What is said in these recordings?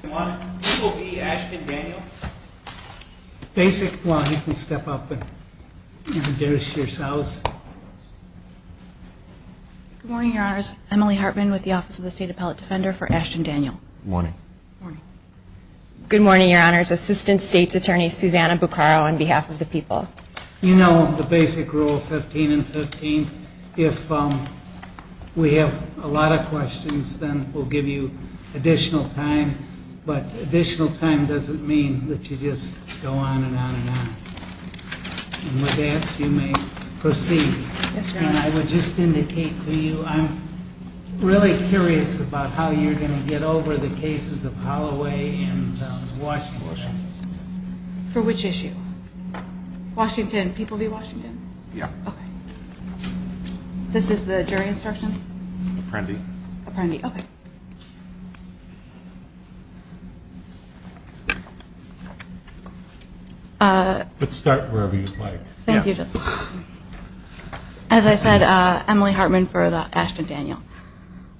Good morning, Your Honors. Assistant State's Attorney, Susanna Buccaro, on behalf of the people. You know the basic rule, 15 and 15. If we have a lot of questions, then we'll give you additional time. But additional time doesn't mean that you just go on and on and on. And with that, you may proceed. Yes, Your Honor. And I would just indicate to you, I'm really curious about how you're going to get over the cases of Holloway and Washington. For which issue? Washington. People v. Washington? Yeah. Okay. This is the jury instructions? Apprendi. Apprendi. Okay. Let's start wherever you'd like. Thank you, Justice. As I said, Emily Hartman for the Ashton-Daniel.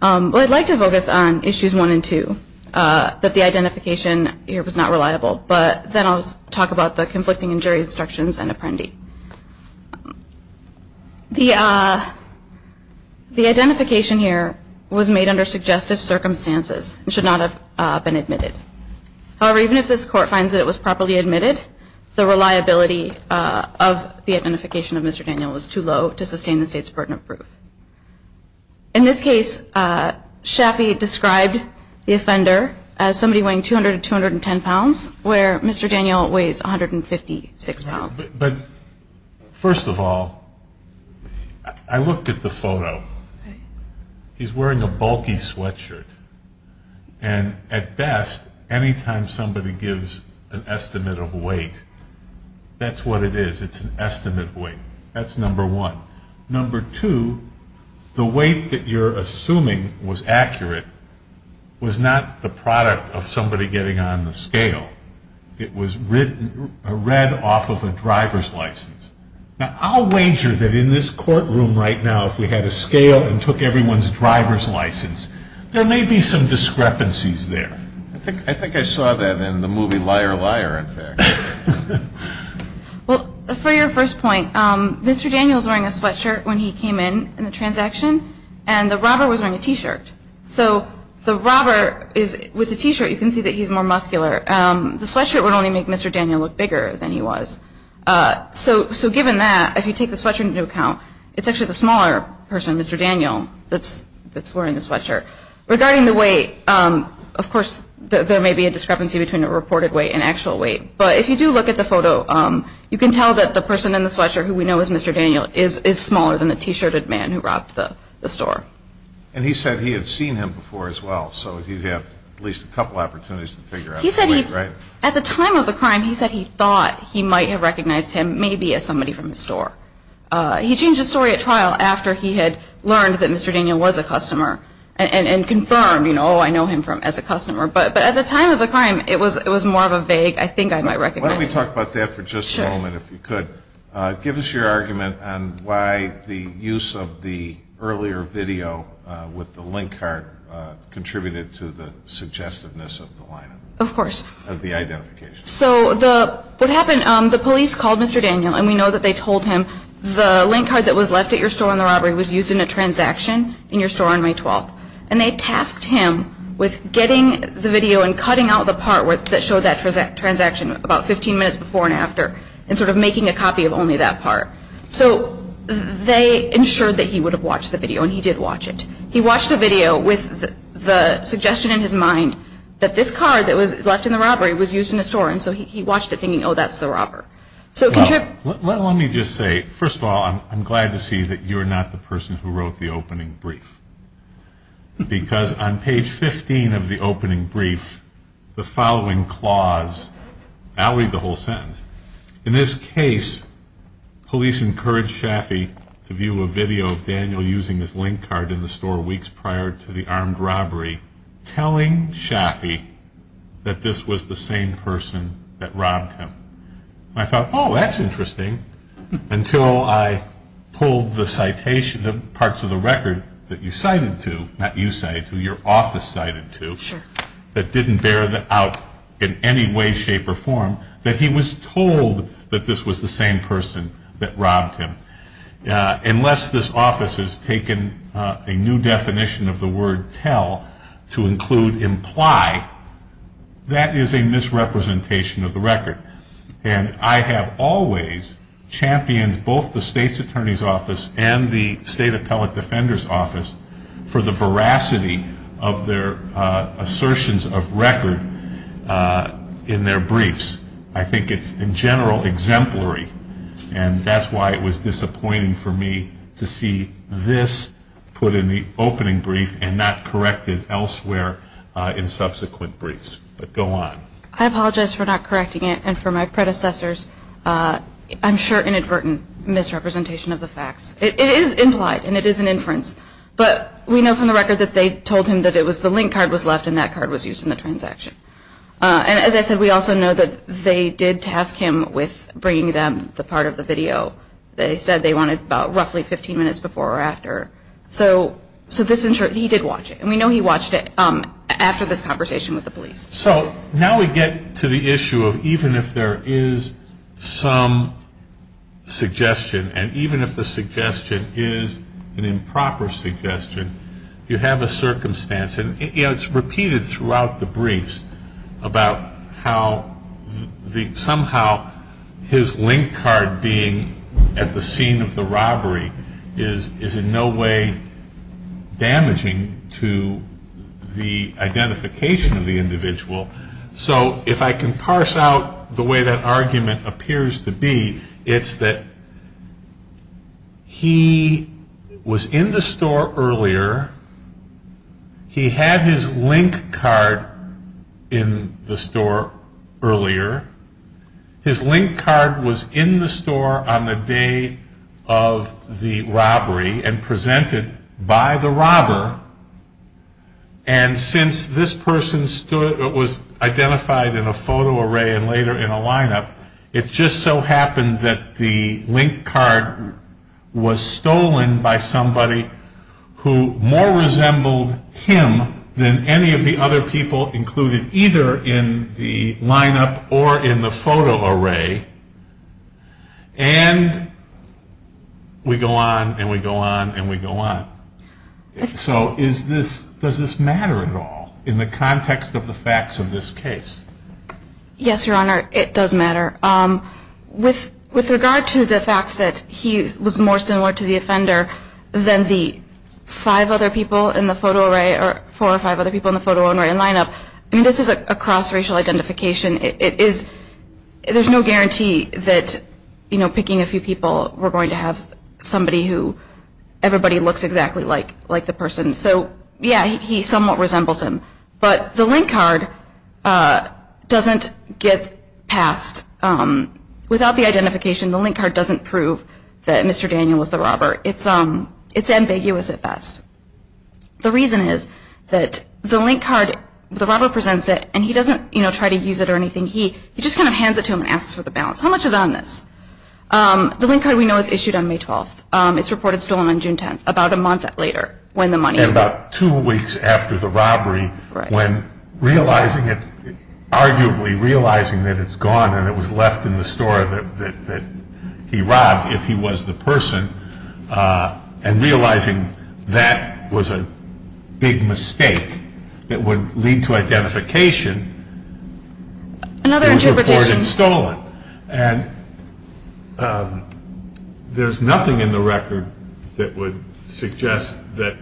Well, I'd like to focus on issues one and two, that the identification here was not reliable. But then I'll talk about the conflicting jury instructions and Apprendi. The identification here was made under suggestive circumstances and should not have been admitted. However, even if this Court finds that it was properly admitted, the reliability of the identification of Mr. Daniel was too low to sustain the State's burden of proof. In this case, Chaffee described the offender as somebody weighing 200 to 210 pounds, where Mr. Daniel weighs 156 pounds. But first of all, I looked at the photo. He's wearing a bulky sweatshirt. And at best, any time somebody gives an estimate of weight, that's what it is. It's an estimate of weight. That's number one. Number two, the weight that you're assuming was accurate was not the product of somebody getting on the scale. It was read off of a driver's license. Now, I'll wager that in this courtroom right now, if we had a scale and took everyone's driver's license, there may be some discrepancies there. I think I saw that in the movie Liar, Liar, in fact. Well, for your first point, Mr. Daniel's wearing a sweatshirt when he came in, in the transaction, and the robber was wearing a T-shirt. So the robber is, with the T-shirt, you can see that he's more muscular. The sweatshirt would only make Mr. Daniel look bigger than he was. So given that, if you take the sweatshirt into account, it's actually the smaller person, Mr. Daniel, that's wearing the sweatshirt. Regarding the weight, of course, there may be a discrepancy between the reported weight and actual weight, but if you do look at the photo, you can tell that the person in the sweatshirt, who we know as Mr. Daniel, is smaller than the T-shirted man who robbed the store. And he said he had seen him before as well, so he'd have at least a couple opportunities to figure out the weight, right? He said he, at the time of the crime, he said he thought he might have recognized him maybe as somebody from the store. He changed his story at trial after he had learned that Mr. Daniel was a customer, and confirmed, you know, oh, I know him as a customer. But at the time of the crime, it was more of a vague, I think I might recognize him. Why don't we talk about that for just a moment, if you could. Sure. Give us your argument on why the use of the earlier video with the link card contributed to the suggestiveness of the line-up. Of course. Of the identification. So what happened, the police called Mr. Daniel, and we know that they told him the link card that was left at your store on the robbery was used in a transaction in your store on May 12th. And they tasked him with getting the video and cutting out the part that showed that transaction about 15 minutes before and after, and sort of making a copy of only that part. So they ensured that he would have watched the video, and he did watch it. He watched the video with the suggestion in his mind that this card that was left in the robbery was used in a store, and so he watched it thinking, oh, that's the robber. Let me just say, first of all, I'm glad to see that you're not the person who wrote the opening brief. Because on page 15 of the opening brief, the following clause, I'll read the whole sentence. In this case, police encouraged Shafi to view a video of Daniel using his link card in the store weeks prior to the armed robbery, telling Shafi that this was the same person that robbed him. And I thought, oh, that's interesting, until I pulled the citation of parts of the record that you cited to, not you cited to, your office cited to, that didn't bear out in any way, shape, or form, that he was told that this was the same person that robbed him. Unless this office has taken a new definition of the word tell to include imply, that is a misrepresentation of the record. And I have always championed both the state's attorney's office and the state appellate defender's office for the veracity of their assertions of record in their briefs. I think it's, in general, exemplary. And that's why it was disappointing for me to see this put in the opening brief and not corrected elsewhere in subsequent briefs. But go on. I apologize for not correcting it and for my predecessor's, I'm sure, inadvertent misrepresentation of the facts. It is implied and it is an inference. But we know from the record that they told him that it was the link card was left and that card was used in the transaction. And as I said, we also know that they did task him with bringing them the part of the video. They said they wanted about roughly 15 minutes before or after. So this, he did watch it. And we know he watched it after this conversation with the police. So now we get to the issue of even if there is some suggestion and even if the suggestion is an improper suggestion, you have a circumstance. And it's repeated throughout the briefs about how somehow his link card being at the scene of the robbery is in no way damaging to the identification of the individual. So if I can parse out the way that argument appears to be, it's that he was in the store earlier. He had his link card in the store earlier. His link card was in the store on the day of the robbery and presented by the robber. And since this person was identified in a photo array and later in a lineup, it just so happened that the link card was stolen by somebody who more resembled him than any of the other people included either in the lineup or in the photo array. And we go on and we go on and we go on. So does this matter at all in the context of the facts of this case? Yes, Your Honor, it does matter. With regard to the fact that he was more similar to the offender than the four or five other people in the photo array and lineup, this is a cross-racial identification. There's no guarantee that picking a few people, we're going to have somebody who everybody looks exactly like the person. So, yeah, he somewhat resembles him. But the link card doesn't get passed. Without the identification, the link card doesn't prove that Mr. Daniel was the robber. It's ambiguous at best. The reason is that the link card, the robber presents it, and he doesn't, you know, try to use it or anything. He just kind of hands it to him and asks for the balance. How much is on this? The link card we know was issued on May 12th. It's reported stolen on June 10th, about a month later when the money was. And about two weeks after the robbery when realizing it, arguably realizing that it's gone and it was left in the store that he robbed if he was the person, and realizing that was a big mistake that would lead to identification, it was reported stolen. And there's nothing in the record that would suggest that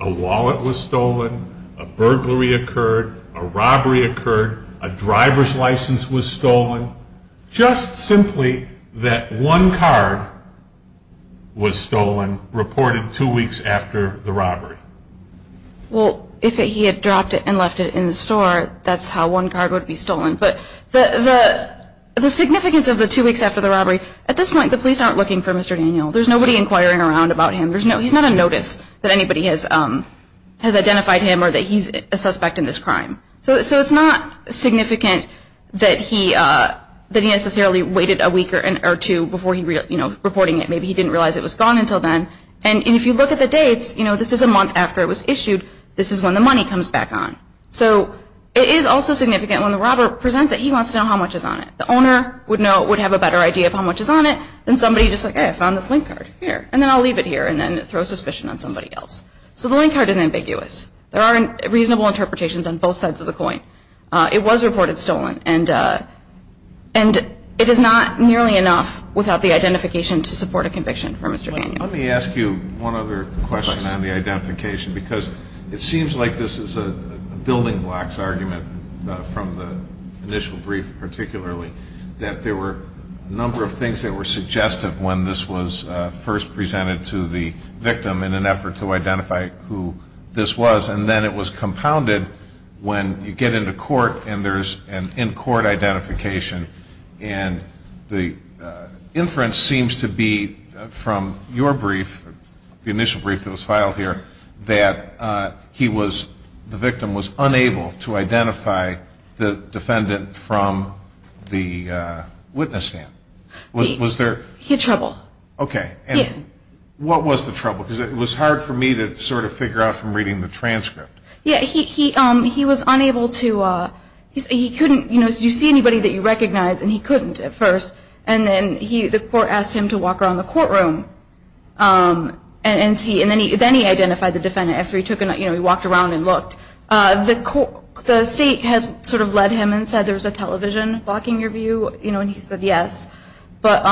a wallet was stolen, a burglary occurred, a robbery occurred, a driver's license was stolen. Just simply that one card was stolen, reported two weeks after the robbery. Well, if he had dropped it and left it in the store, that's how one card would be stolen. But the significance of the two weeks after the robbery, at this point the police aren't looking for Mr. Daniel. There's nobody inquiring around about him. He's not on notice that anybody has identified him or that he's a suspect in this crime. So it's not significant that he necessarily waited a week or two before reporting it. Maybe he didn't realize it was gone until then. And if you look at the dates, this is a month after it was issued. This is when the money comes back on. So it is also significant when the robber presents it, he wants to know how much is on it. The owner would know, would have a better idea of how much is on it, than somebody just like, hey, I found this link card, here, and then I'll leave it here, and then throw suspicion on somebody else. So the link card is ambiguous. There aren't reasonable interpretations on both sides of the coin. It was reported stolen. And it is not nearly enough without the identification to support a conviction for Mr. Daniel. Let me ask you one other question on the identification, because it seems like this is a building blocks argument from the initial brief, particularly that there were a number of things that were suggestive when this was first presented to the victim in an effort to identify who this was. And then it was compounded when you get into court and there's an in-court identification. And the inference seems to be from your brief, the initial brief that was filed here, that he was, the victim was unable to identify the defendant from the witness stand. Was there? He had trouble. Okay. He had. What was the trouble? Because it was hard for me to sort of figure out from reading the transcript. Yeah, he was unable to, he couldn't, you know, did you see anybody that you recognized, and he couldn't at first. And then the court asked him to walk around the courtroom and see, and then he identified the defendant after he took a, you know, he walked around and looked. The state had sort of led him and said there was a television blocking your view, you know, and he said yes. But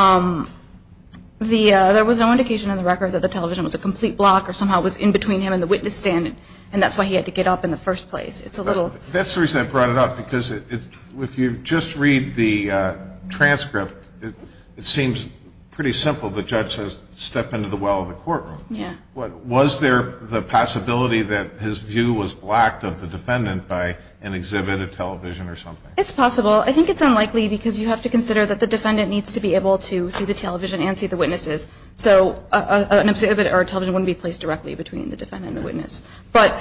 there was no indication in the record that the television was a complete block or somehow was in between him and the witness stand, and that's why he had to get up in the first place. It's a little. That's the reason I brought it up, because if you just read the transcript, it seems pretty simple. The judge says step into the well of the courtroom. Yeah. Was there the possibility that his view was blocked of the defendant by an exhibit, a television, or something? It's possible. I think it's unlikely because you have to consider that the defendant needs to be able to see the television and see the witnesses, so an exhibit or a television wouldn't be placed directly between the defendant and the witness. But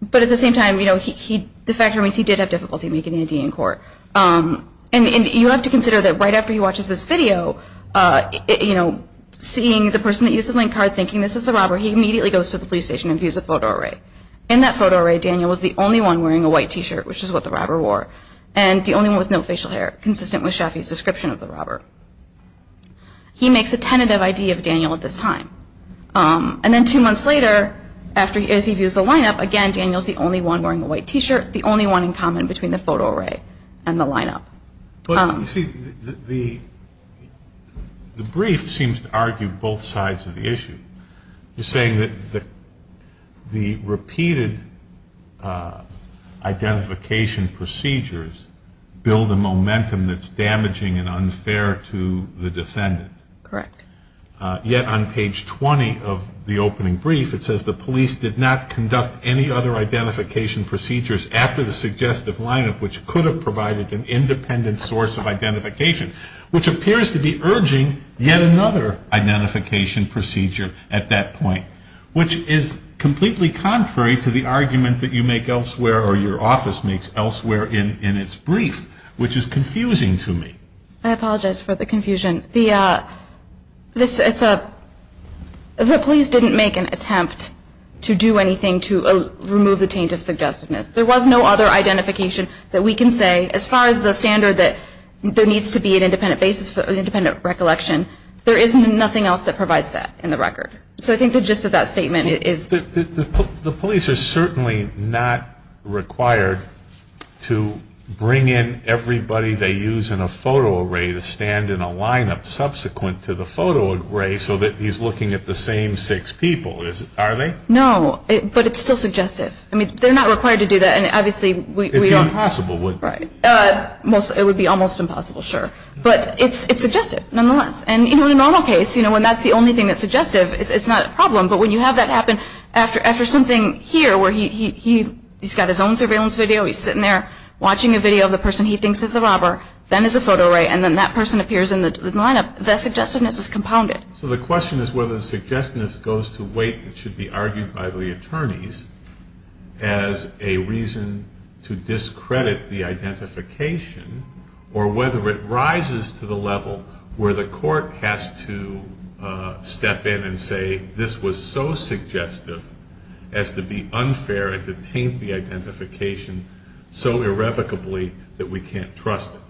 at the same time, you know, the fact remains he did have difficulty making an ID in court. And you have to consider that right after he watches this video, you know, seeing the person that used the link card thinking this is the robber, he immediately goes to the police station and views a photo array. In that photo array, Daniel was the only one wearing a white T-shirt, which is what the robber wore, and the only one with no facial hair, consistent with Shafi's description of the robber. He makes a tentative ID of Daniel at this time. And then two months later, as he views the lineup, again, Daniel is the only one wearing a white T-shirt, the only one in common between the photo array and the lineup. But, you see, the brief seems to argue both sides of the issue. You're saying that the repeated identification procedures build a momentum that's damaging and unfair to the defendant. Correct. Yet on page 20 of the opening brief, it says, the police did not conduct any other identification procedures after the suggestive lineup, which could have provided an independent source of identification, which appears to be urging yet another identification procedure at that point, which is completely contrary to the argument that you make elsewhere or your office makes elsewhere in its brief, which is confusing to me. I apologize for the confusion. The police didn't make an attempt to do anything to remove the taint of suggestiveness. There was no other identification that we can say, as far as the standard that there needs to be an independent basis for independent recollection. There is nothing else that provides that in the record. So I think the gist of that statement is the police are certainly not required to bring in everybody they use in a photo array to stand in a lineup subsequent to the photo array so that he's looking at the same six people, are they? No, but it's still suggestive. I mean, they're not required to do that, and obviously we don't have to. It would be almost impossible, sure. But it's suggestive nonetheless. And in a normal case, when that's the only thing that's suggestive, it's not a problem. But when you have that happen after something here where he's got his own surveillance video, he's sitting there watching a video of the person he thinks is the robber, then there's a photo array, and then that person appears in the lineup, that suggestiveness is compounded. So the question is whether the suggestiveness goes to a weight that should be argued by the attorneys as a reason to discredit the identification, or whether it rises to the level where the court has to step in and say, this was so suggestive as to be unfair and to taint the identification so irrevocably that we can't trust it.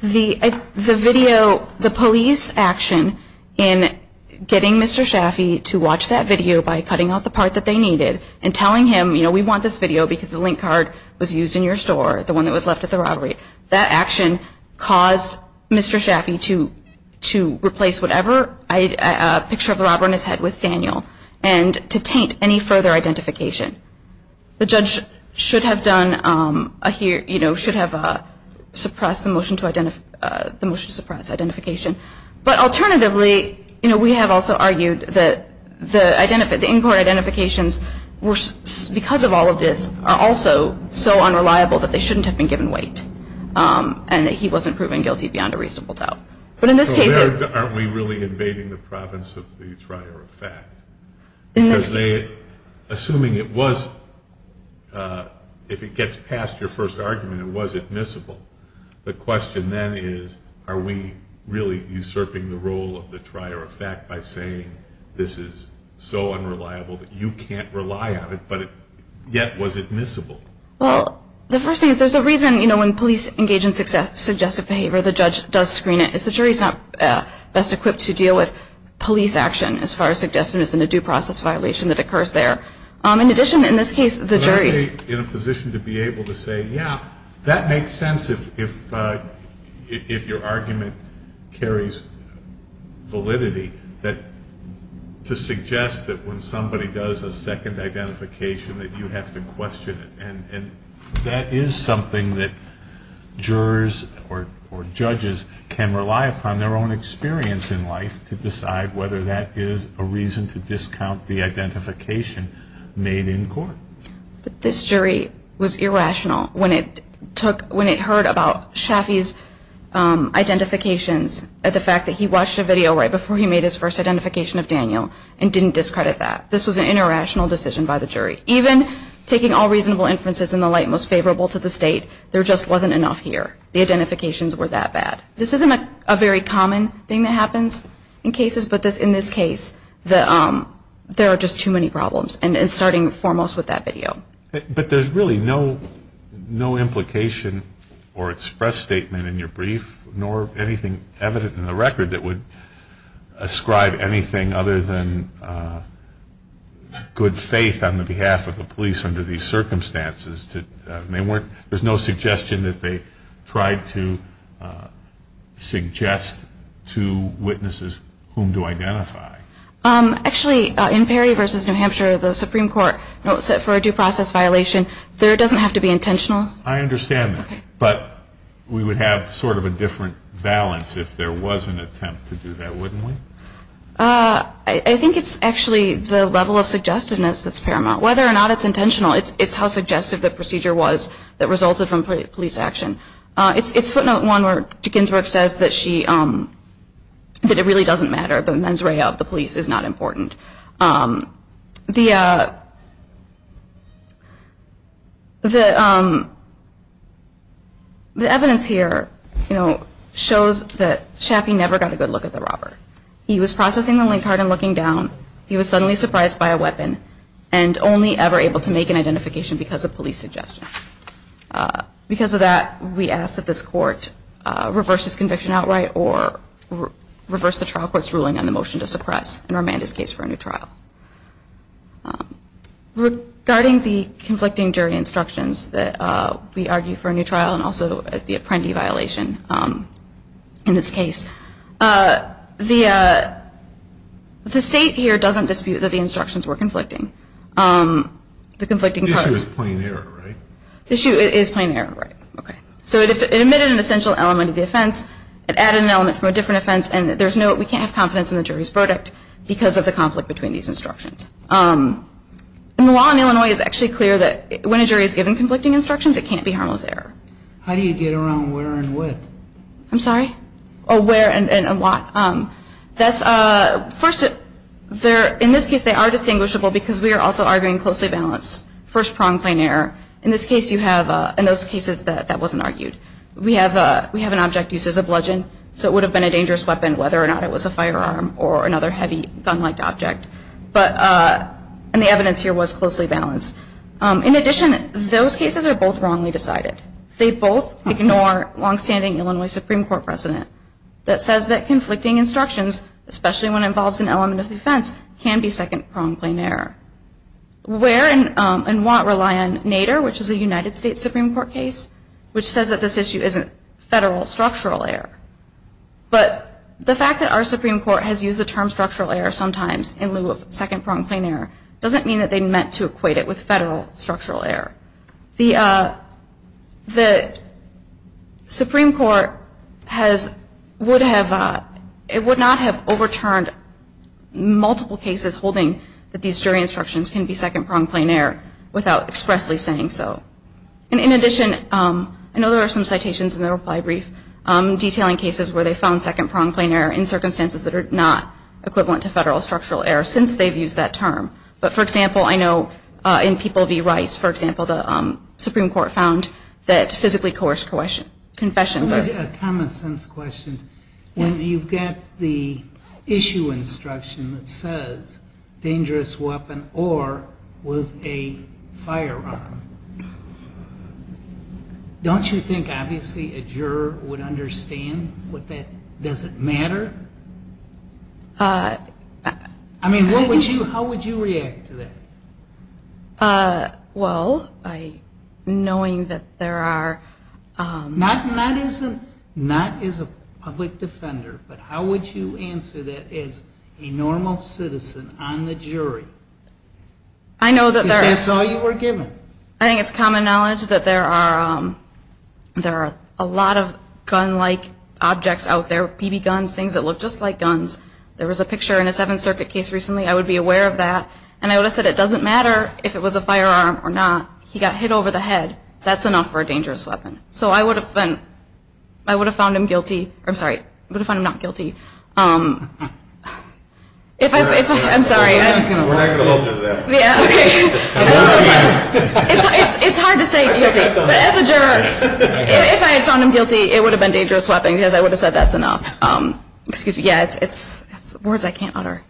The video, the police action in getting Mr. Schaffee to watch that video by cutting out the part that they needed and telling him, you know, we want this video because the link card was used in your store, the one that was left at the robbery, that action caused Mr. Schaffee to replace whatever picture of the robber on his head with Daniel and to taint any further identification. The judge should have done, you know, should have suppressed the motion to suppress identification. But alternatively, you know, we have also argued that the in-court identifications, because of all of this, are also so unreliable that they shouldn't have been given weight and that he wasn't proven guilty beyond a reasonable doubt. So there, aren't we really invading the province of the trier of fact? Because they, assuming it was, if it gets past your first argument, it was admissible. The question then is, are we really usurping the role of the trier of fact by saying, this is so unreliable that you can't rely on it, but yet was admissible? Well, the first thing is, there's a reason, you know, when police engage in suggestive behavior, the judge does screen it. It's the jury's not best equipped to deal with police action as far as suggestiveness and a due process violation that occurs there. In addition, in this case, the jury- Am I in a position to be able to say, yeah, that makes sense if your argument carries validity, that to suggest that when somebody does a second identification that you have to question it. And that is something that jurors or judges can rely upon their own experience in life to decide whether that is a reason to discount the identification made in court. But this jury was irrational when it took, when it heard about Shafi's identifications, the fact that he watched a video right before he made his first identification of Daniel and didn't discredit that. This was an irrational decision by the jury. Even taking all reasonable inferences in the light most favorable to the state, there just wasn't enough here. The identifications were that bad. This isn't a very common thing that happens in cases, but in this case, there are just too many problems, and starting foremost with that video. But there's really no implication or express statement in your brief, nor anything evident in the record that would ascribe anything other than good faith on the behalf of the police under these circumstances. There's no suggestion that they tried to suggest to witnesses whom to identify. Actually, in Perry v. New Hampshire, the Supreme Court, for a due process violation, there doesn't have to be intentional. I understand that, but we would have sort of a different balance if there was an attempt to do that, wouldn't we? I think it's actually the level of suggestiveness that's paramount. Whether or not it's intentional, it's how suggestive the procedure was that resulted from police action. It's footnote one where Dickensburg says that it really doesn't matter. The mens rea of the police is not important. The evidence here shows that Chaffee never got a good look at the robber. He was processing the link card and looking down. He was suddenly surprised by a weapon and only ever able to make an identification because of police suggestion. Because of that, we ask that this court reverse his conviction outright or reverse the trial court's ruling on the motion to suppress and remand his case for a new trial. Regarding the conflicting jury instructions that we argue for a new trial and also the apprendee violation in this case, the state here doesn't dispute that the instructions were conflicting. The conflicting part of it. The issue is plain error, right? The issue is plain error, right. So it admitted an essential element of the offense. It added an element from a different offense. And we can't have confidence in the jury's verdict because of the conflict between these instructions. And the law in Illinois is actually clear that when a jury is given conflicting instructions, it can't be harmless error. How do you get around where and what? I'm sorry? Oh, where and what. First, in this case they are distinguishable because we are also arguing closely balanced first prong plain error. In this case you have, in those cases, that wasn't argued. We have an object used as a bludgeon, so it would have been a dangerous weapon whether or not it was a firearm or another heavy gun-like object. And the evidence here was closely balanced. In addition, those cases are both wrongly decided. They both ignore longstanding Illinois Supreme Court precedent that says that conflicting instructions, especially when it involves an element of the offense, can be second prong plain error. Where and what rely on NADER, which is a United States Supreme Court case, which says that this issue isn't federal structural error. But the fact that our Supreme Court has used the term structural error sometimes in lieu of second prong plain error doesn't mean that they meant to equate it with federal structural error. The Supreme Court would not have overturned multiple cases holding that these jury instructions can be second prong plain error without expressly saying so. And in addition, I know there are some citations in the reply brief detailing cases where they found second prong plain error in circumstances that are not equivalent to federal structural error since they've used that term. But, for example, I know in People v. Rice, for example, the Supreme Court found that physically coerced confessions are I have a common sense question. When you get the issue instruction that says dangerous weapon or with a firearm, don't you think, obviously, a juror would understand what that doesn't matter? I mean, how would you react to that? Well, knowing that there are. Not as a public defender, but how would you answer that as a normal citizen on the jury? I know that there are. I think it's common knowledge that there are a lot of gun-like objects out there, BB guns, things that look just like guns. There was a picture in a Seventh Circuit case recently. I would be aware of that. And I would have said it doesn't matter if it was a firearm or not. He got hit over the head. That's enough for a dangerous weapon. So I would have found him guilty. I'm sorry. I would have found him not guilty. It's hard to say guilty. But as a juror, if I had found him guilty, it would have been dangerous weapon because I would have said that's enough. Excuse me. Yeah, it's words I can't utter.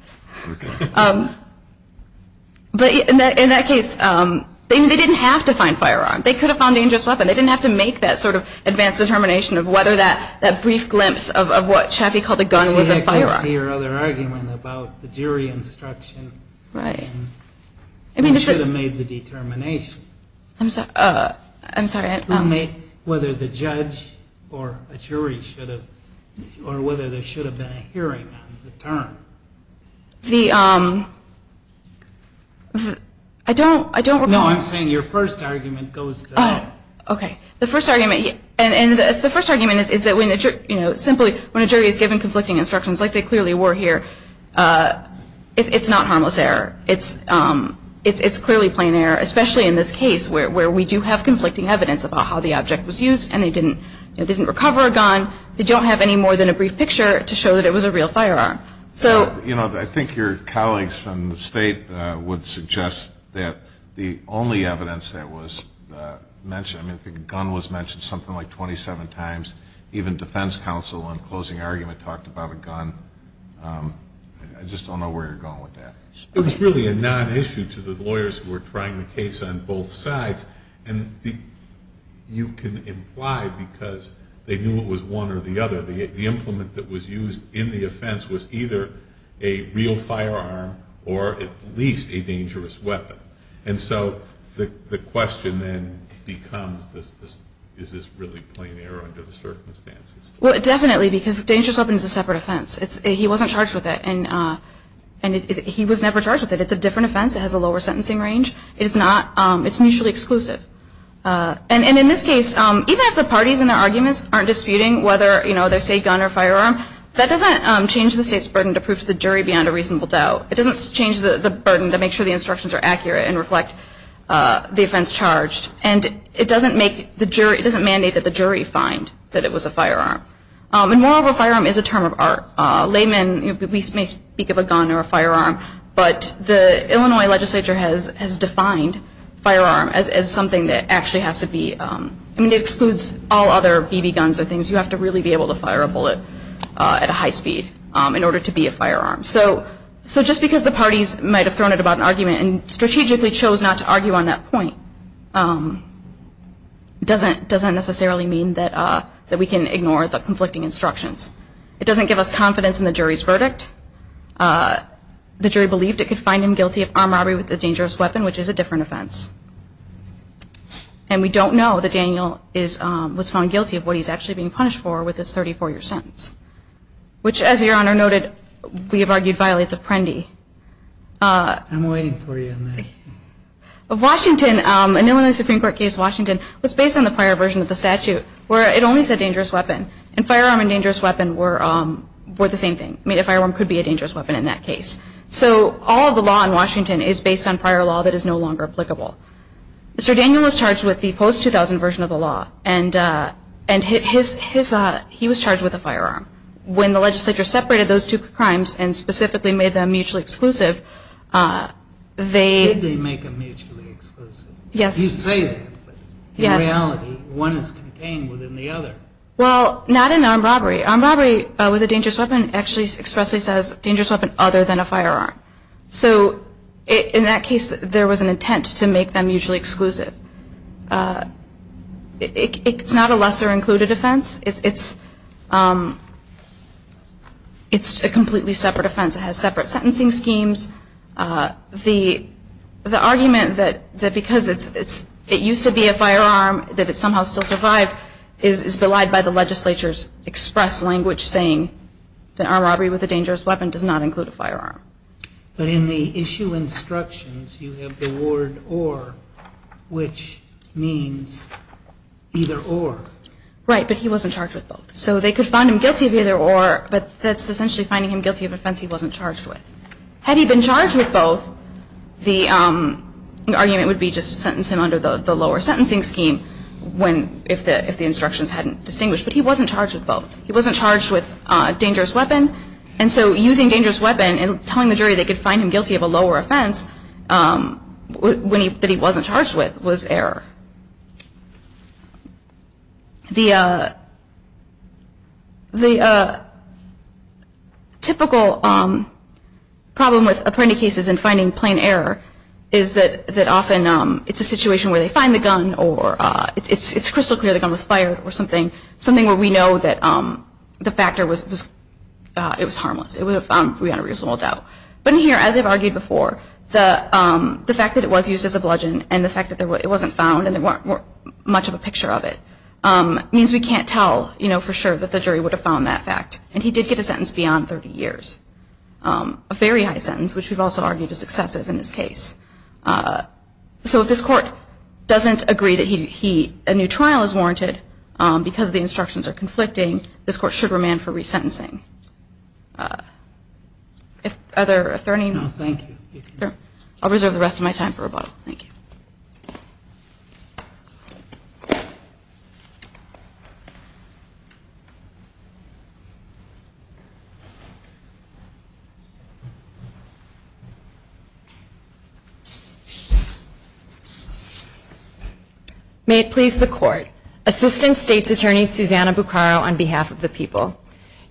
But in that case, they didn't have to find firearms. They could have found a dangerous weapon. They didn't have to make that sort of advanced determination of whether that brief glimpse of what Chaffee called a gun was a dangerous weapon. Your other argument about the jury instruction. Right. They should have made the determination. I'm sorry. Whether the judge or a jury should have, or whether there should have been a hearing on the term. The, I don't. No, I'm saying your first argument goes to that. Okay. The first argument, and the first argument is that when a jury, you know, is giving instructions like they clearly were here, it's not harmless error. It's clearly plain error, especially in this case where we do have conflicting evidence about how the object was used and they didn't recover a gun. They don't have any more than a brief picture to show that it was a real firearm. So. You know, I think your colleagues from the State would suggest that the only evidence that was mentioned, I mean, the gun was mentioned something like 27 times. Even defense counsel in closing argument talked about a gun. I just don't know where you're going with that. It was really a nonissue to the lawyers who were trying the case on both sides. And you can imply because they knew it was one or the other. The implement that was used in the offense was either a real firearm or at least a dangerous weapon. And so the question then becomes is this really plain error under the circumstances? Well, definitely because dangerous weapon is a separate offense. He wasn't charged with it. And he was never charged with it. It's a different offense. It has a lower sentencing range. It's not. It's mutually exclusive. And in this case, even if the parties in the arguments aren't disputing whether, you know, they say gun or firearm, that doesn't change the State's burden to prove to the jury beyond a reasonable doubt. It doesn't change the burden to make sure the instructions are accurate and reflect the offense charged. And it doesn't make the jury – it doesn't mandate that the jury find that it was a firearm. And moreover, firearm is a term of art. Laymen may speak of a gun or a firearm. But the Illinois legislature has defined firearm as something that actually has to be – I mean, it excludes all other BB guns or things. You have to really be able to fire a bullet at a high speed in order to be a firearm. So just because the parties might have thrown it about an argument and strategically chose not to argue on that point doesn't necessarily mean that we can ignore the conflicting instructions. It doesn't give us confidence in the jury's verdict. The jury believed it could find him guilty of armed robbery with a dangerous weapon, which is a different offense. And we don't know that Daniel was found guilty of what he's actually being punished for with his 34-year sentence, which, as Your Honor noted, we have argued violates of Prendy. I'm waiting for you on that. Of Washington, an Illinois Supreme Court case, Washington, was based on the prior version of the statute where it only said dangerous weapon. And firearm and dangerous weapon were the same thing. I mean, a firearm could be a dangerous weapon in that case. So all of the law in Washington is based on prior law that is no longer applicable. Mr. Daniel was charged with the post-2000 version of the law. And he was charged with a firearm. When the legislature separated those two crimes and specifically made them mutually exclusive, they... Did they make them mutually exclusive? Yes. You say that, but in reality, one is contained within the other. Well, not in armed robbery. Armed robbery with a dangerous weapon actually expressly says dangerous weapon other than a firearm. So in that case, there was an intent to make them mutually exclusive. It's not a lesser-included offense. It's a completely separate offense. It has separate sentencing schemes. The argument that because it used to be a firearm that it somehow still survived is belied by the legislature's saying that armed robbery with a dangerous weapon does not include a firearm. But in the issue instructions, you have the word or, which means either or. Right. But he wasn't charged with both. So they could find him guilty of either or, but that's essentially finding him guilty of an offense he wasn't charged with. Had he been charged with both, the argument would be just to sentence him under the lower sentencing scheme when if the instructions hadn't distinguished. But he wasn't charged with both. He wasn't charged with a dangerous weapon. And so using dangerous weapon and telling the jury they could find him guilty of a lower offense that he wasn't charged with was error. The typical problem with apprendi cases in finding plain error is that often it's a situation where they find the gun or it's crystal clear the gun was fired or something where we know that the factor was harmless. It would have found a reasonable doubt. But in here, as I've argued before, the fact that it was used as a bludgeon and the fact that it wasn't found and there weren't much of a picture of it means we can't tell for sure that the jury would have found that fact. And he did get a sentence beyond 30 years, a very high sentence, which we've also argued is excessive in this case. So if this court doesn't agree that a new trial is warranted because the instructions are conflicting, this court should remand for resentencing. Are there any other questions? No, thank you. I'll reserve the rest of my time for rebuttal. Thank you. May it please the court. Assistant State's Attorney Susanna Buccaro on behalf of the people.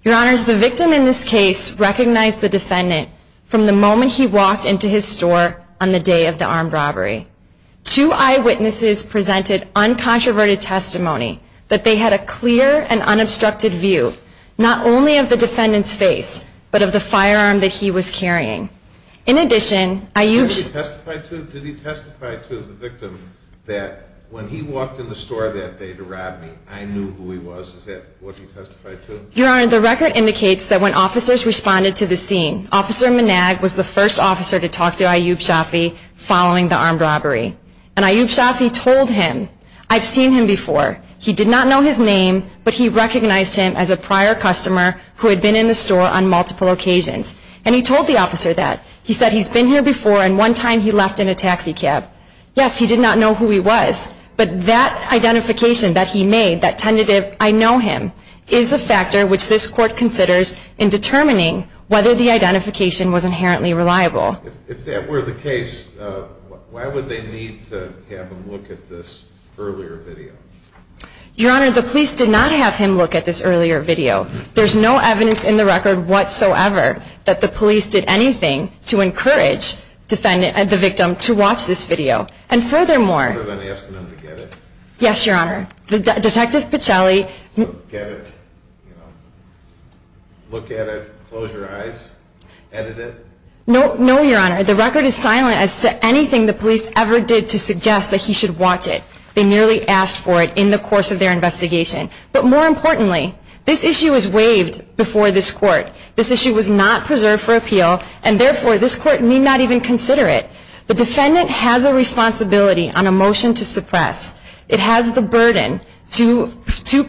Your Honors, the victim in this case recognized the defendant from the moment he walked into his store on the day of the armed robbery. Two eyewitnesses presented uncontroverted testimony that they had a clear and unobstructed view, not only of the defendant's face, but of the firearm that he was carrying. Did he testify to the victim that when he walked in the store that day to rob me, I knew who he was? Is that what he testified to? Your Honor, the record indicates that when officers responded to the scene, Officer Minag was the first officer to talk to Ayub Shafi following the armed robbery. And Ayub Shafi told him, I've seen him before. He did not know his name, but he recognized him as a prior customer who had been in the store on multiple occasions. And he told the officer that. He said he's been here before and one time he left in a taxi cab. Yes, he did not know who he was. But that identification that he made, that tentative, I know him, is a factor which this court considers in determining whether the identification was inherently reliable. If that were the case, why would they need to have him look at this earlier video? Your Honor, the police did not have him look at this earlier video. There's no evidence in the record whatsoever that the police did anything to encourage the victim to watch this video. And furthermore. Other than asking them to get it. Yes, Your Honor. Detective Pichelli. Get it. Look at it. Close your eyes. Edit it. No, Your Honor. The record is silent as to anything the police ever did to suggest that he should watch it. They merely asked for it in the course of their investigation. But more importantly, this issue was waived before this court. This issue was not preserved for appeal and therefore this court need not even consider it. The defendant has a responsibility on a motion to suppress. It has the burden to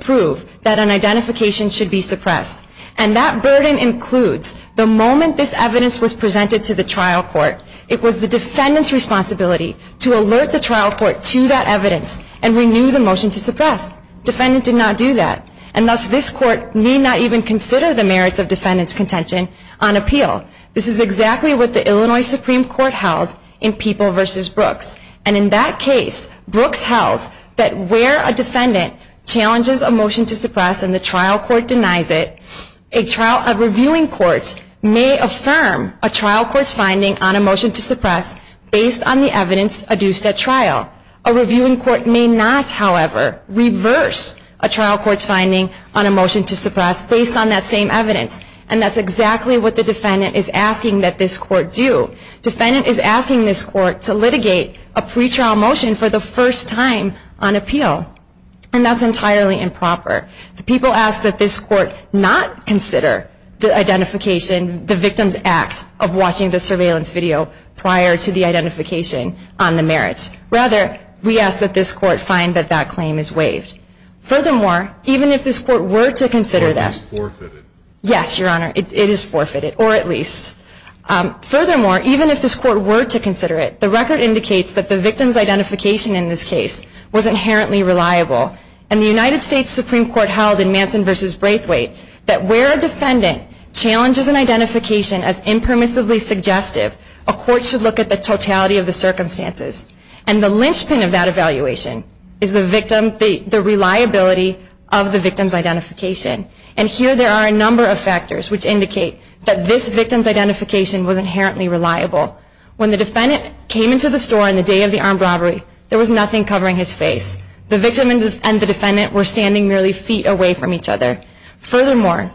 prove that an identification should be suppressed. And that burden includes the moment this evidence was presented to the trial court, it was the defendant's responsibility to alert the trial court to that evidence and renew the motion to suppress. Defendant did not do that. And thus this court need not even consider the merits of defendant's contention on appeal. This is exactly what the Illinois Supreme Court held in People v. Brooks. And in that case, Brooks held that where a defendant challenges a motion to suppress and the trial court denies it, a reviewing court may affirm a trial court's finding on a motion to suppress based on the evidence adduced at trial. A reviewing court may not, however, reverse a trial court's finding on a motion to suppress based on that same evidence. And that's exactly what the defendant is asking that this court do. Defendant is asking this court to litigate a pretrial motion for the first time on appeal. And that's entirely improper. People ask that this court not consider the identification, the victim's act of watching the surveillance video prior to the identification on the merits. Rather, we ask that this court find that that claim is waived. Furthermore, even if this court were to consider that. It is forfeited. Yes, Your Honor. It is forfeited, or at least. Furthermore, even if this court were to consider it, the record indicates that the victim's identification in this case was inherently reliable. And the United States Supreme Court held in Manson v. Braithwaite that where a defendant challenges an identification as impermissibly suggestive, a court should look at the totality of the circumstances. And the linchpin of that evaluation is the victim, the reliability of the victim's identification. And here there are a number of factors which indicate that this victim's identification was inherently reliable. When the defendant came into the store on the day of the armed robbery, there was nothing covering his face. The victim and the defendant were standing merely feet away from each other. Furthermore,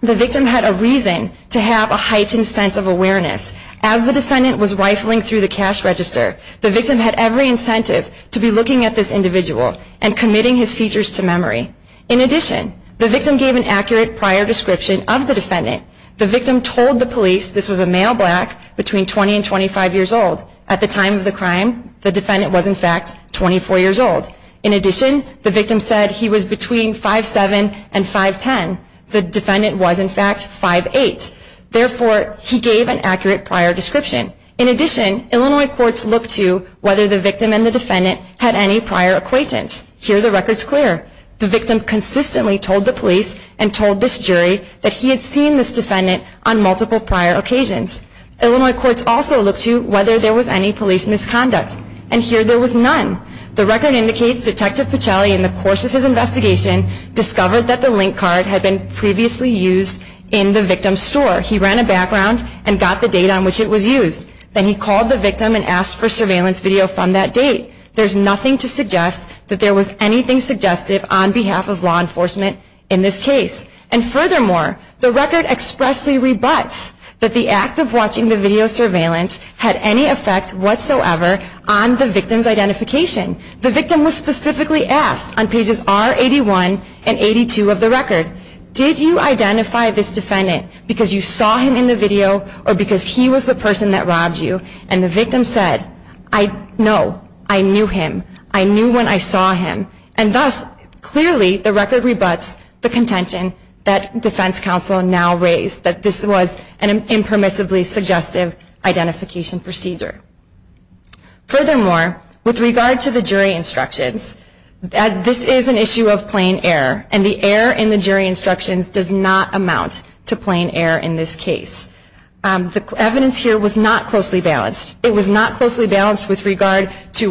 the victim had a reason to have a heightened sense of awareness. As the defendant was rifling through the cash register, the victim had every incentive to be looking at this individual and committing his features to memory. In addition, the victim gave an accurate prior description of the defendant. The victim told the police this was a male black between 20 and 25 years old. At the time of the crime, the defendant was in fact 24 years old. In addition, the victim said he was between 5'7 and 5'10. The defendant was in fact 5'8. Therefore, he gave an accurate prior description. In addition, Illinois courts looked to whether the victim and the defendant had any prior acquaintance. Here the record's clear. The victim consistently told the police and told this jury that he had seen this defendant on multiple prior occasions. Illinois courts also looked to whether there was any police misconduct. And here there was none. The record indicates Detective Pacelli, in the course of his investigation, discovered that the link card had been previously used in the victim's store. He ran a background and got the date on which it was used. Then he called the victim and asked for surveillance video from that date. There's nothing to suggest that there was anything suggestive on behalf of law enforcement in this case. And furthermore, the record expressly rebuts that the act of watching the video surveillance had any effect whatsoever on the victim's identification. The victim was specifically asked on pages R81 and 82 of the record, Did you identify this defendant because you saw him in the video or because he was the person that robbed you? And the victim said, I know. I knew him. I knew when I saw him. And thus, clearly, the record rebuts the contention that defense counsel now raise that this was an impermissibly suggestive identification procedure. Furthermore, with regard to the jury instructions, this is an issue of plain error. And the error in the jury instructions does not amount to plain error in this case. The evidence here was not closely balanced. It was not closely balanced with regard to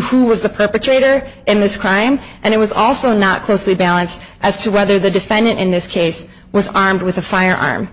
who was the perpetrator in this crime. And it was also not closely balanced as to whether the defendant in this case was armed with a firearm.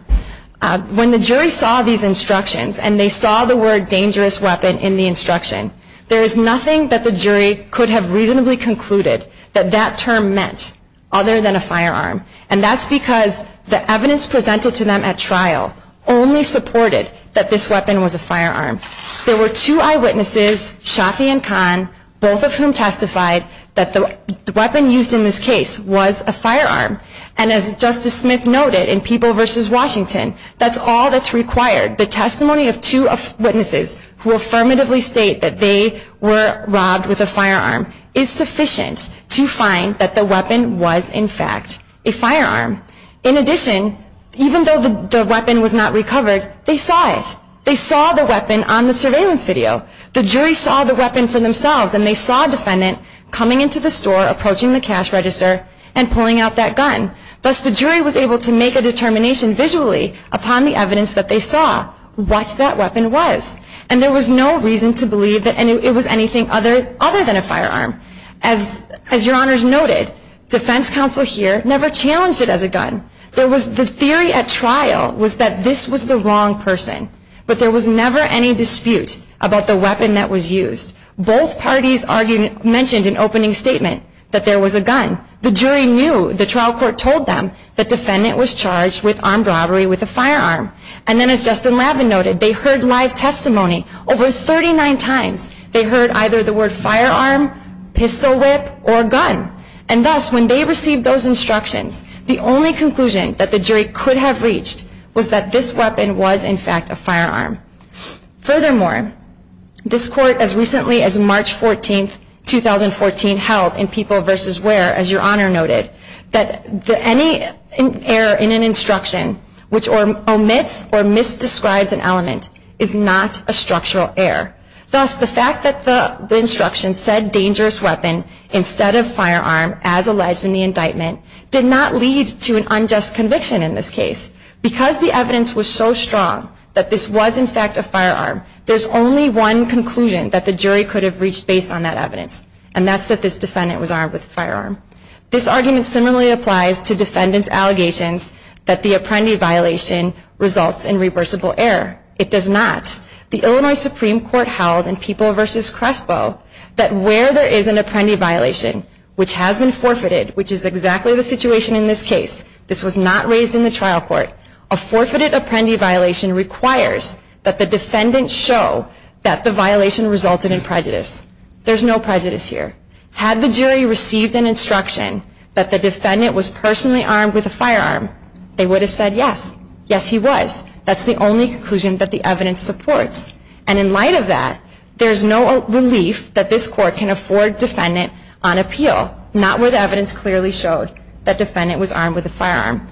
When the jury saw these instructions and they saw the word dangerous weapon in the instruction, there is nothing that the jury could have reasonably concluded that that term meant other than a firearm. And that's because the evidence presented to them at trial only supported that this weapon was a firearm. There were two eyewitnesses, Shafi and Khan, both of whom testified that the weapon used in this case was a firearm. And as Justice Smith noted in People v. Washington, that's all that's required. The testimony of two witnesses who affirmatively state that they were robbed with a firearm is sufficient to find that the weapon was, in fact, a firearm. In addition, even though the weapon was not recovered, they saw it. They saw the weapon on the surveillance video. The jury saw the weapon for themselves, and they saw a defendant coming into the store, approaching the cash register, and pulling out that gun. Thus, the jury was able to make a determination visually upon the evidence that they saw what that weapon was. And there was no reason to believe that it was anything other than a firearm. As Your Honors noted, defense counsel here never challenged it as a gun. The theory at trial was that this was the wrong person. But there was never any dispute about the weapon that was used. Both parties mentioned in opening statement that there was a gun. The jury knew. The trial court told them the defendant was charged with armed robbery with a firearm. And then as Justin Lavin noted, they heard live testimony over 39 times. They heard either the word firearm, pistol whip, or gun. And thus, when they received those instructions, the only conclusion that the jury could have reached was that this weapon was, in fact, a firearm. Furthermore, this court, as recently as March 14, 2014, held in People v. Ware, as Your Honor noted, that any error in an instruction which omits or misdescribes an element is not a structural error. Thus, the fact that the instruction said dangerous weapon instead of firearm, as alleged in the indictment, did not lead to an unjust conviction in this case. Because the evidence was so strong that this was, in fact, a firearm, there's only one conclusion that the jury could have reached based on that evidence, and that's that this defendant was armed with a firearm. This argument similarly applies to defendant's allegations that the Apprendi violation results in reversible error. It does not. The Illinois Supreme Court held in People v. Crespo that where there is an Apprendi violation, which has been forfeited, which is exactly the situation in this case, this was not raised in the trial court, a forfeited Apprendi violation requires that the defendant show that the violation resulted in prejudice. There's no prejudice here. Had the jury received an instruction that the defendant was personally armed with a firearm, they would have said yes. Yes, he was. That's the only conclusion that the evidence supports. And in light of that, there's no relief that this court can afford defendant on appeal, not where the evidence clearly showed that defendant was armed with a firearm.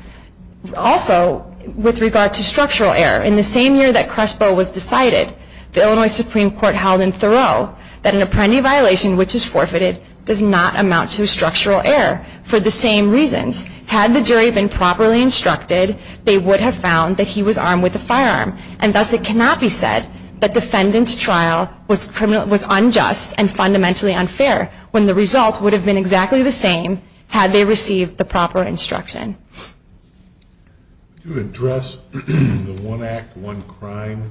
Also, with regard to structural error, in the same year that Crespo was decided, the Illinois Supreme Court held in Thoreau that an Apprendi violation, which is forfeited, does not amount to structural error for the same reasons. Had the jury been properly instructed, they would have found that he was armed with a firearm, and thus it cannot be said that defendant's trial was unjust and fundamentally unfair when the result would have been exactly the same had they received the proper instruction. To address the one act, one crime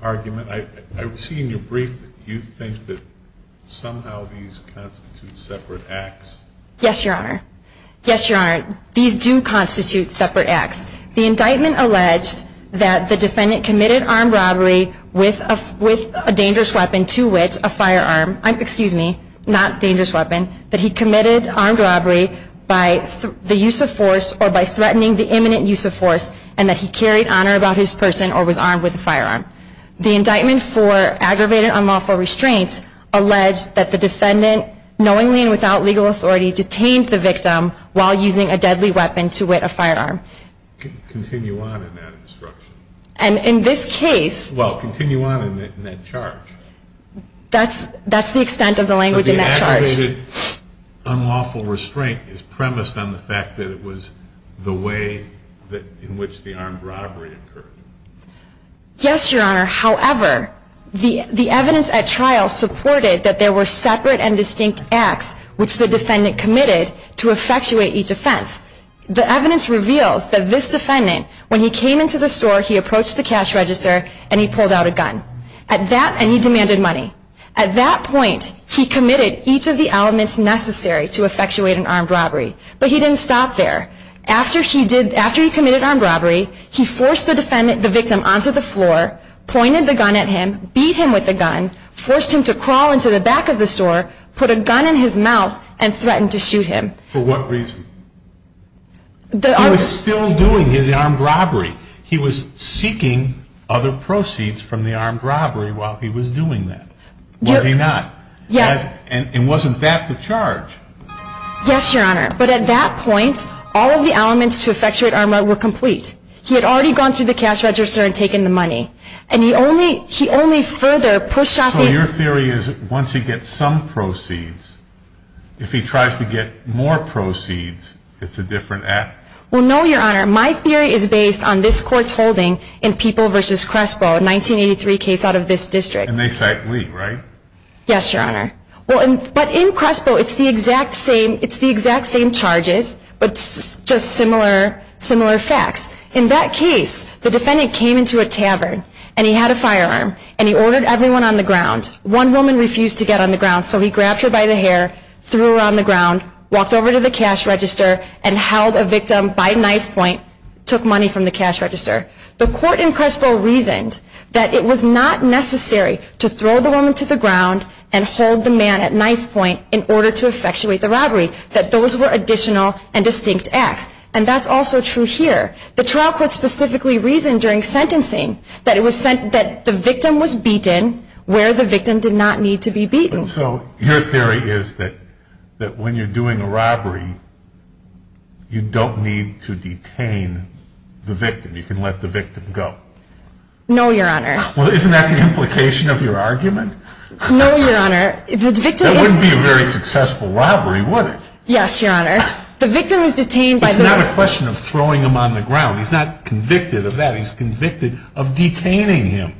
argument, I see in your brief that you think that somehow these constitute separate acts. Yes, Your Honor. Yes, Your Honor. These do constitute separate acts. The indictment alleged that the defendant committed armed robbery with a dangerous weapon, two wits, a firearm, excuse me, not dangerous weapon, that he committed armed robbery by the use of force or by threatening the imminent use of force and that he carried honor about his person or was armed with a firearm. The indictment for aggravated unlawful restraints alleged that the defendant, knowingly and without legal authority, detained the victim while using a deadly weapon to wit a firearm. Continue on in that instruction. And in this case... Well, continue on in that charge. That's the extent of the language in that charge. But the aggravated unlawful restraint is premised on the fact that it was the way in which the armed robbery occurred. Yes, Your Honor. However, the evidence at trial supported that there were separate and distinct acts which the defendant committed to effectuate each offense. The evidence reveals that this defendant, when he came into the store, he approached the cash register and he pulled out a gun. And he demanded money. At that point, he committed each of the elements necessary to effectuate an armed robbery. But he didn't stop there. After he committed an armed robbery, he forced the victim onto the floor, pointed the gun at him, beat him with the gun, forced him to crawl into the back of the store, put a gun in his mouth, and threatened to shoot him. For what reason? He was still doing his armed robbery. He was seeking other proceeds from the armed robbery while he was doing that. Was he not? Yes. And wasn't that the charge? Yes, Your Honor. But at that point, all of the elements to effectuate armed robbery were complete. He had already gone through the cash register and taken the money. And he only further pushed off the... So your theory is that once he gets some proceeds, if he tries to get more proceeds, it's a different act? Well, no, Your Honor. My theory is based on this Court's holding in People v. Crespo, a 1983 case out of this district. And they cite Lee, right? Yes, Your Honor. But in Crespo, it's the exact same charges, but just similar facts. In that case, the defendant came into a tavern, and he had a firearm, and he ordered everyone on the ground. One woman refused to get on the ground, so he grabbed her by the hair, threw her on the ground, walked over to the cash register, and held a victim by knife point, took money from the cash register. The Court in Crespo reasoned that it was not necessary to throw the woman to the ground and hold the man at knife point in order to effectuate the robbery, that those were additional and distinct acts. And that's also true here. The trial court specifically reasoned during sentencing that the victim was beaten where the victim did not need to be beaten. So your theory is that when you're doing a robbery, you don't need to detain the victim. You can let the victim go. No, Your Honor. Well, isn't that the implication of your argument? No, Your Honor. That wouldn't be a very successful robbery, would it? Yes, Your Honor. The victim is detained by the... It's not a question of throwing him on the ground. He's not convicted of that. He's convicted of detaining him.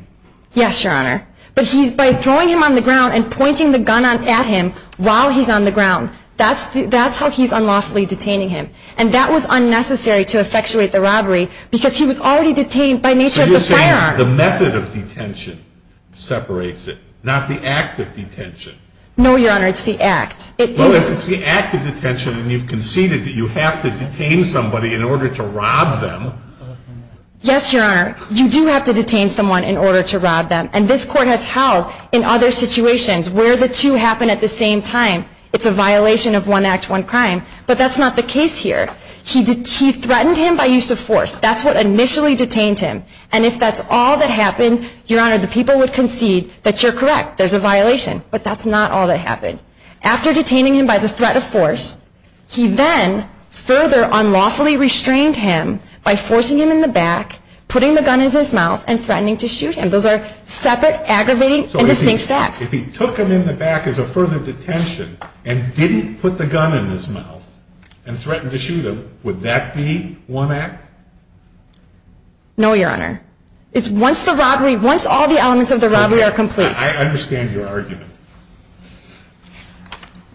Yes, Your Honor. But by throwing him on the ground and pointing the gun at him while he's on the ground, that's how he's unlawfully detaining him. And that was unnecessary to effectuate the robbery because he was already detained by nature of the firearm. So you're saying the method of detention separates it, not the act of detention. No, Your Honor. It's the act. Well, if it's the act of detention and you've conceded that you have to detain somebody in order to rob them... Yes, Your Honor. You do have to detain someone in order to rob them. And this Court has held in other situations where the two happen at the same time, it's a violation of one act, one crime. But that's not the case here. He threatened him by use of force. That's what initially detained him. And if that's all that happened, Your Honor, the people would concede that you're correct. There's a violation. But that's not all that happened. After detaining him by the threat of force, he then further unlawfully restrained him by forcing him in the back, putting the gun in his mouth, and threatening to shoot him. Those are separate, aggravating, and distinct facts. If he took him in the back as a further detention and didn't put the gun in his mouth and threatened to shoot him, would that be one act? No, Your Honor. It's once all the elements of the robbery are complete. I understand your argument.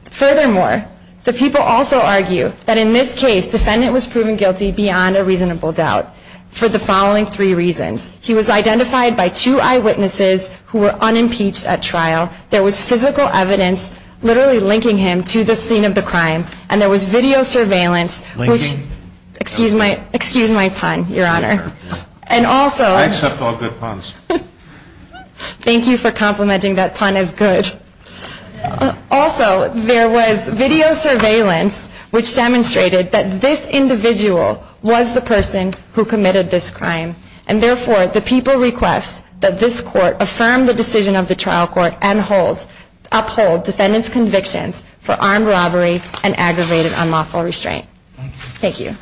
Furthermore, the people also argue that in this case, defendant was proven guilty beyond a reasonable doubt for the following three reasons. He was identified by two eyewitnesses who were unimpeached at trial. There was physical evidence literally linking him to the scene of the crime. And there was video surveillance. Linking? Excuse my pun, Your Honor. I accept all good puns. Thank you for complimenting that pun as good. Also, there was video surveillance which demonstrated that this individual was the person who committed this crime. And therefore, the people request that this court affirm the decision of the trial court and uphold defendant's convictions for armed robbery and aggravated unlawful restraint. Thank you.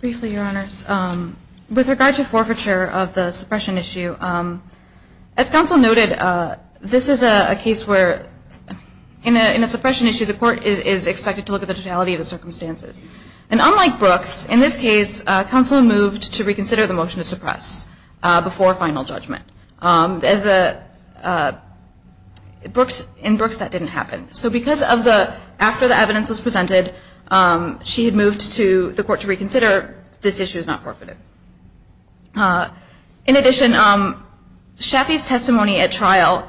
Briefly, Your Honors, with regard to forfeiture of the suppression issue, as counsel noted, this is a case where in a suppression issue, the court is expected to look at the totality of the circumstances. And unlike Brooks, in this case, counsel moved to reconsider the motion to suppress before final judgment. In Brooks, that didn't happen. So because after the evidence was presented, she had moved to the court to reconsider, this issue is not forfeited. In addition, Shafee's testimony at trial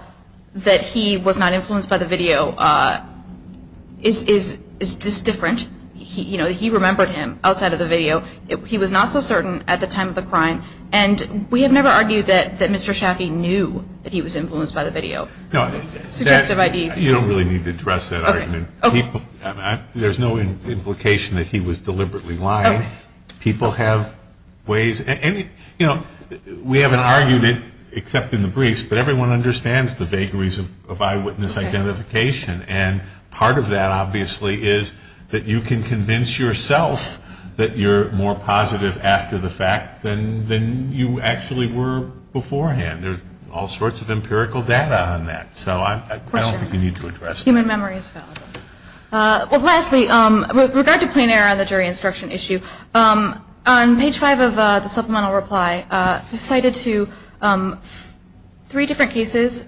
that he was not influenced by the video is just different. You know, he remembered him outside of the video. He was not so certain at the time of the crime. And we have never argued that Mr. Shafee knew that he was influenced by the video. You don't really need to address that argument. There's no implication that he was deliberately lying. People have ways. You know, we haven't argued it except in the briefs, but everyone understands the vagaries of eyewitness identification. And part of that, obviously, is that you can convince yourself that you're more positive after the fact than you actually were beforehand. There's all sorts of empirical data on that. So I don't think you need to address that. Human memory is valid. Well, lastly, with regard to plain error on the jury instruction issue, on page five of the supplemental reply, cited to three different cases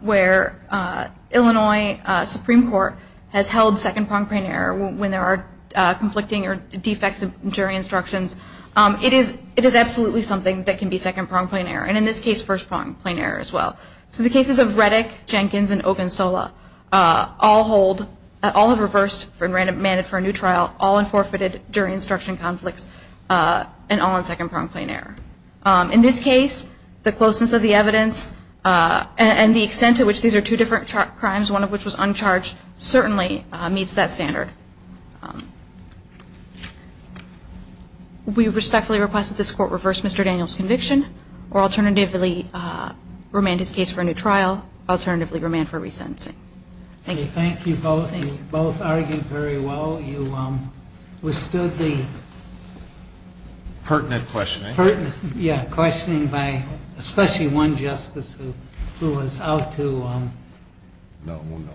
where Illinois Supreme Court has held second-pronged plain error when there are conflicting or defects in jury instructions. It is absolutely something that can be second-pronged plain error, and in this case, first-pronged plain error as well. So the cases of Reddick, Jenkins, and Ogunsola all have reversed and ran it for a new trial, all in forfeited jury instruction conflicts, and all in second-pronged plain error. In this case, the closeness of the evidence and the extent to which these are two different crimes, one of which was uncharged, certainly meets that standard. We respectfully request that this Court reverse Mr. Daniels' conviction or alternatively remand his case for a new trial, alternatively remand for resentencing. Thank you. Thank you both. Thank you. You both argued very well. You withstood the pertinent questioning. Pertinent. Yeah, questioning by especially one justice who was out to... No, no, no.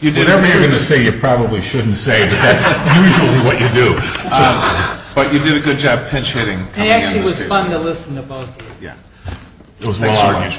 You did everything to say you probably shouldn't say, but that's usually what you do. But you did a good job pinch-hitting. It actually was fun to listen to both of you. Yeah. It was a lot of fun.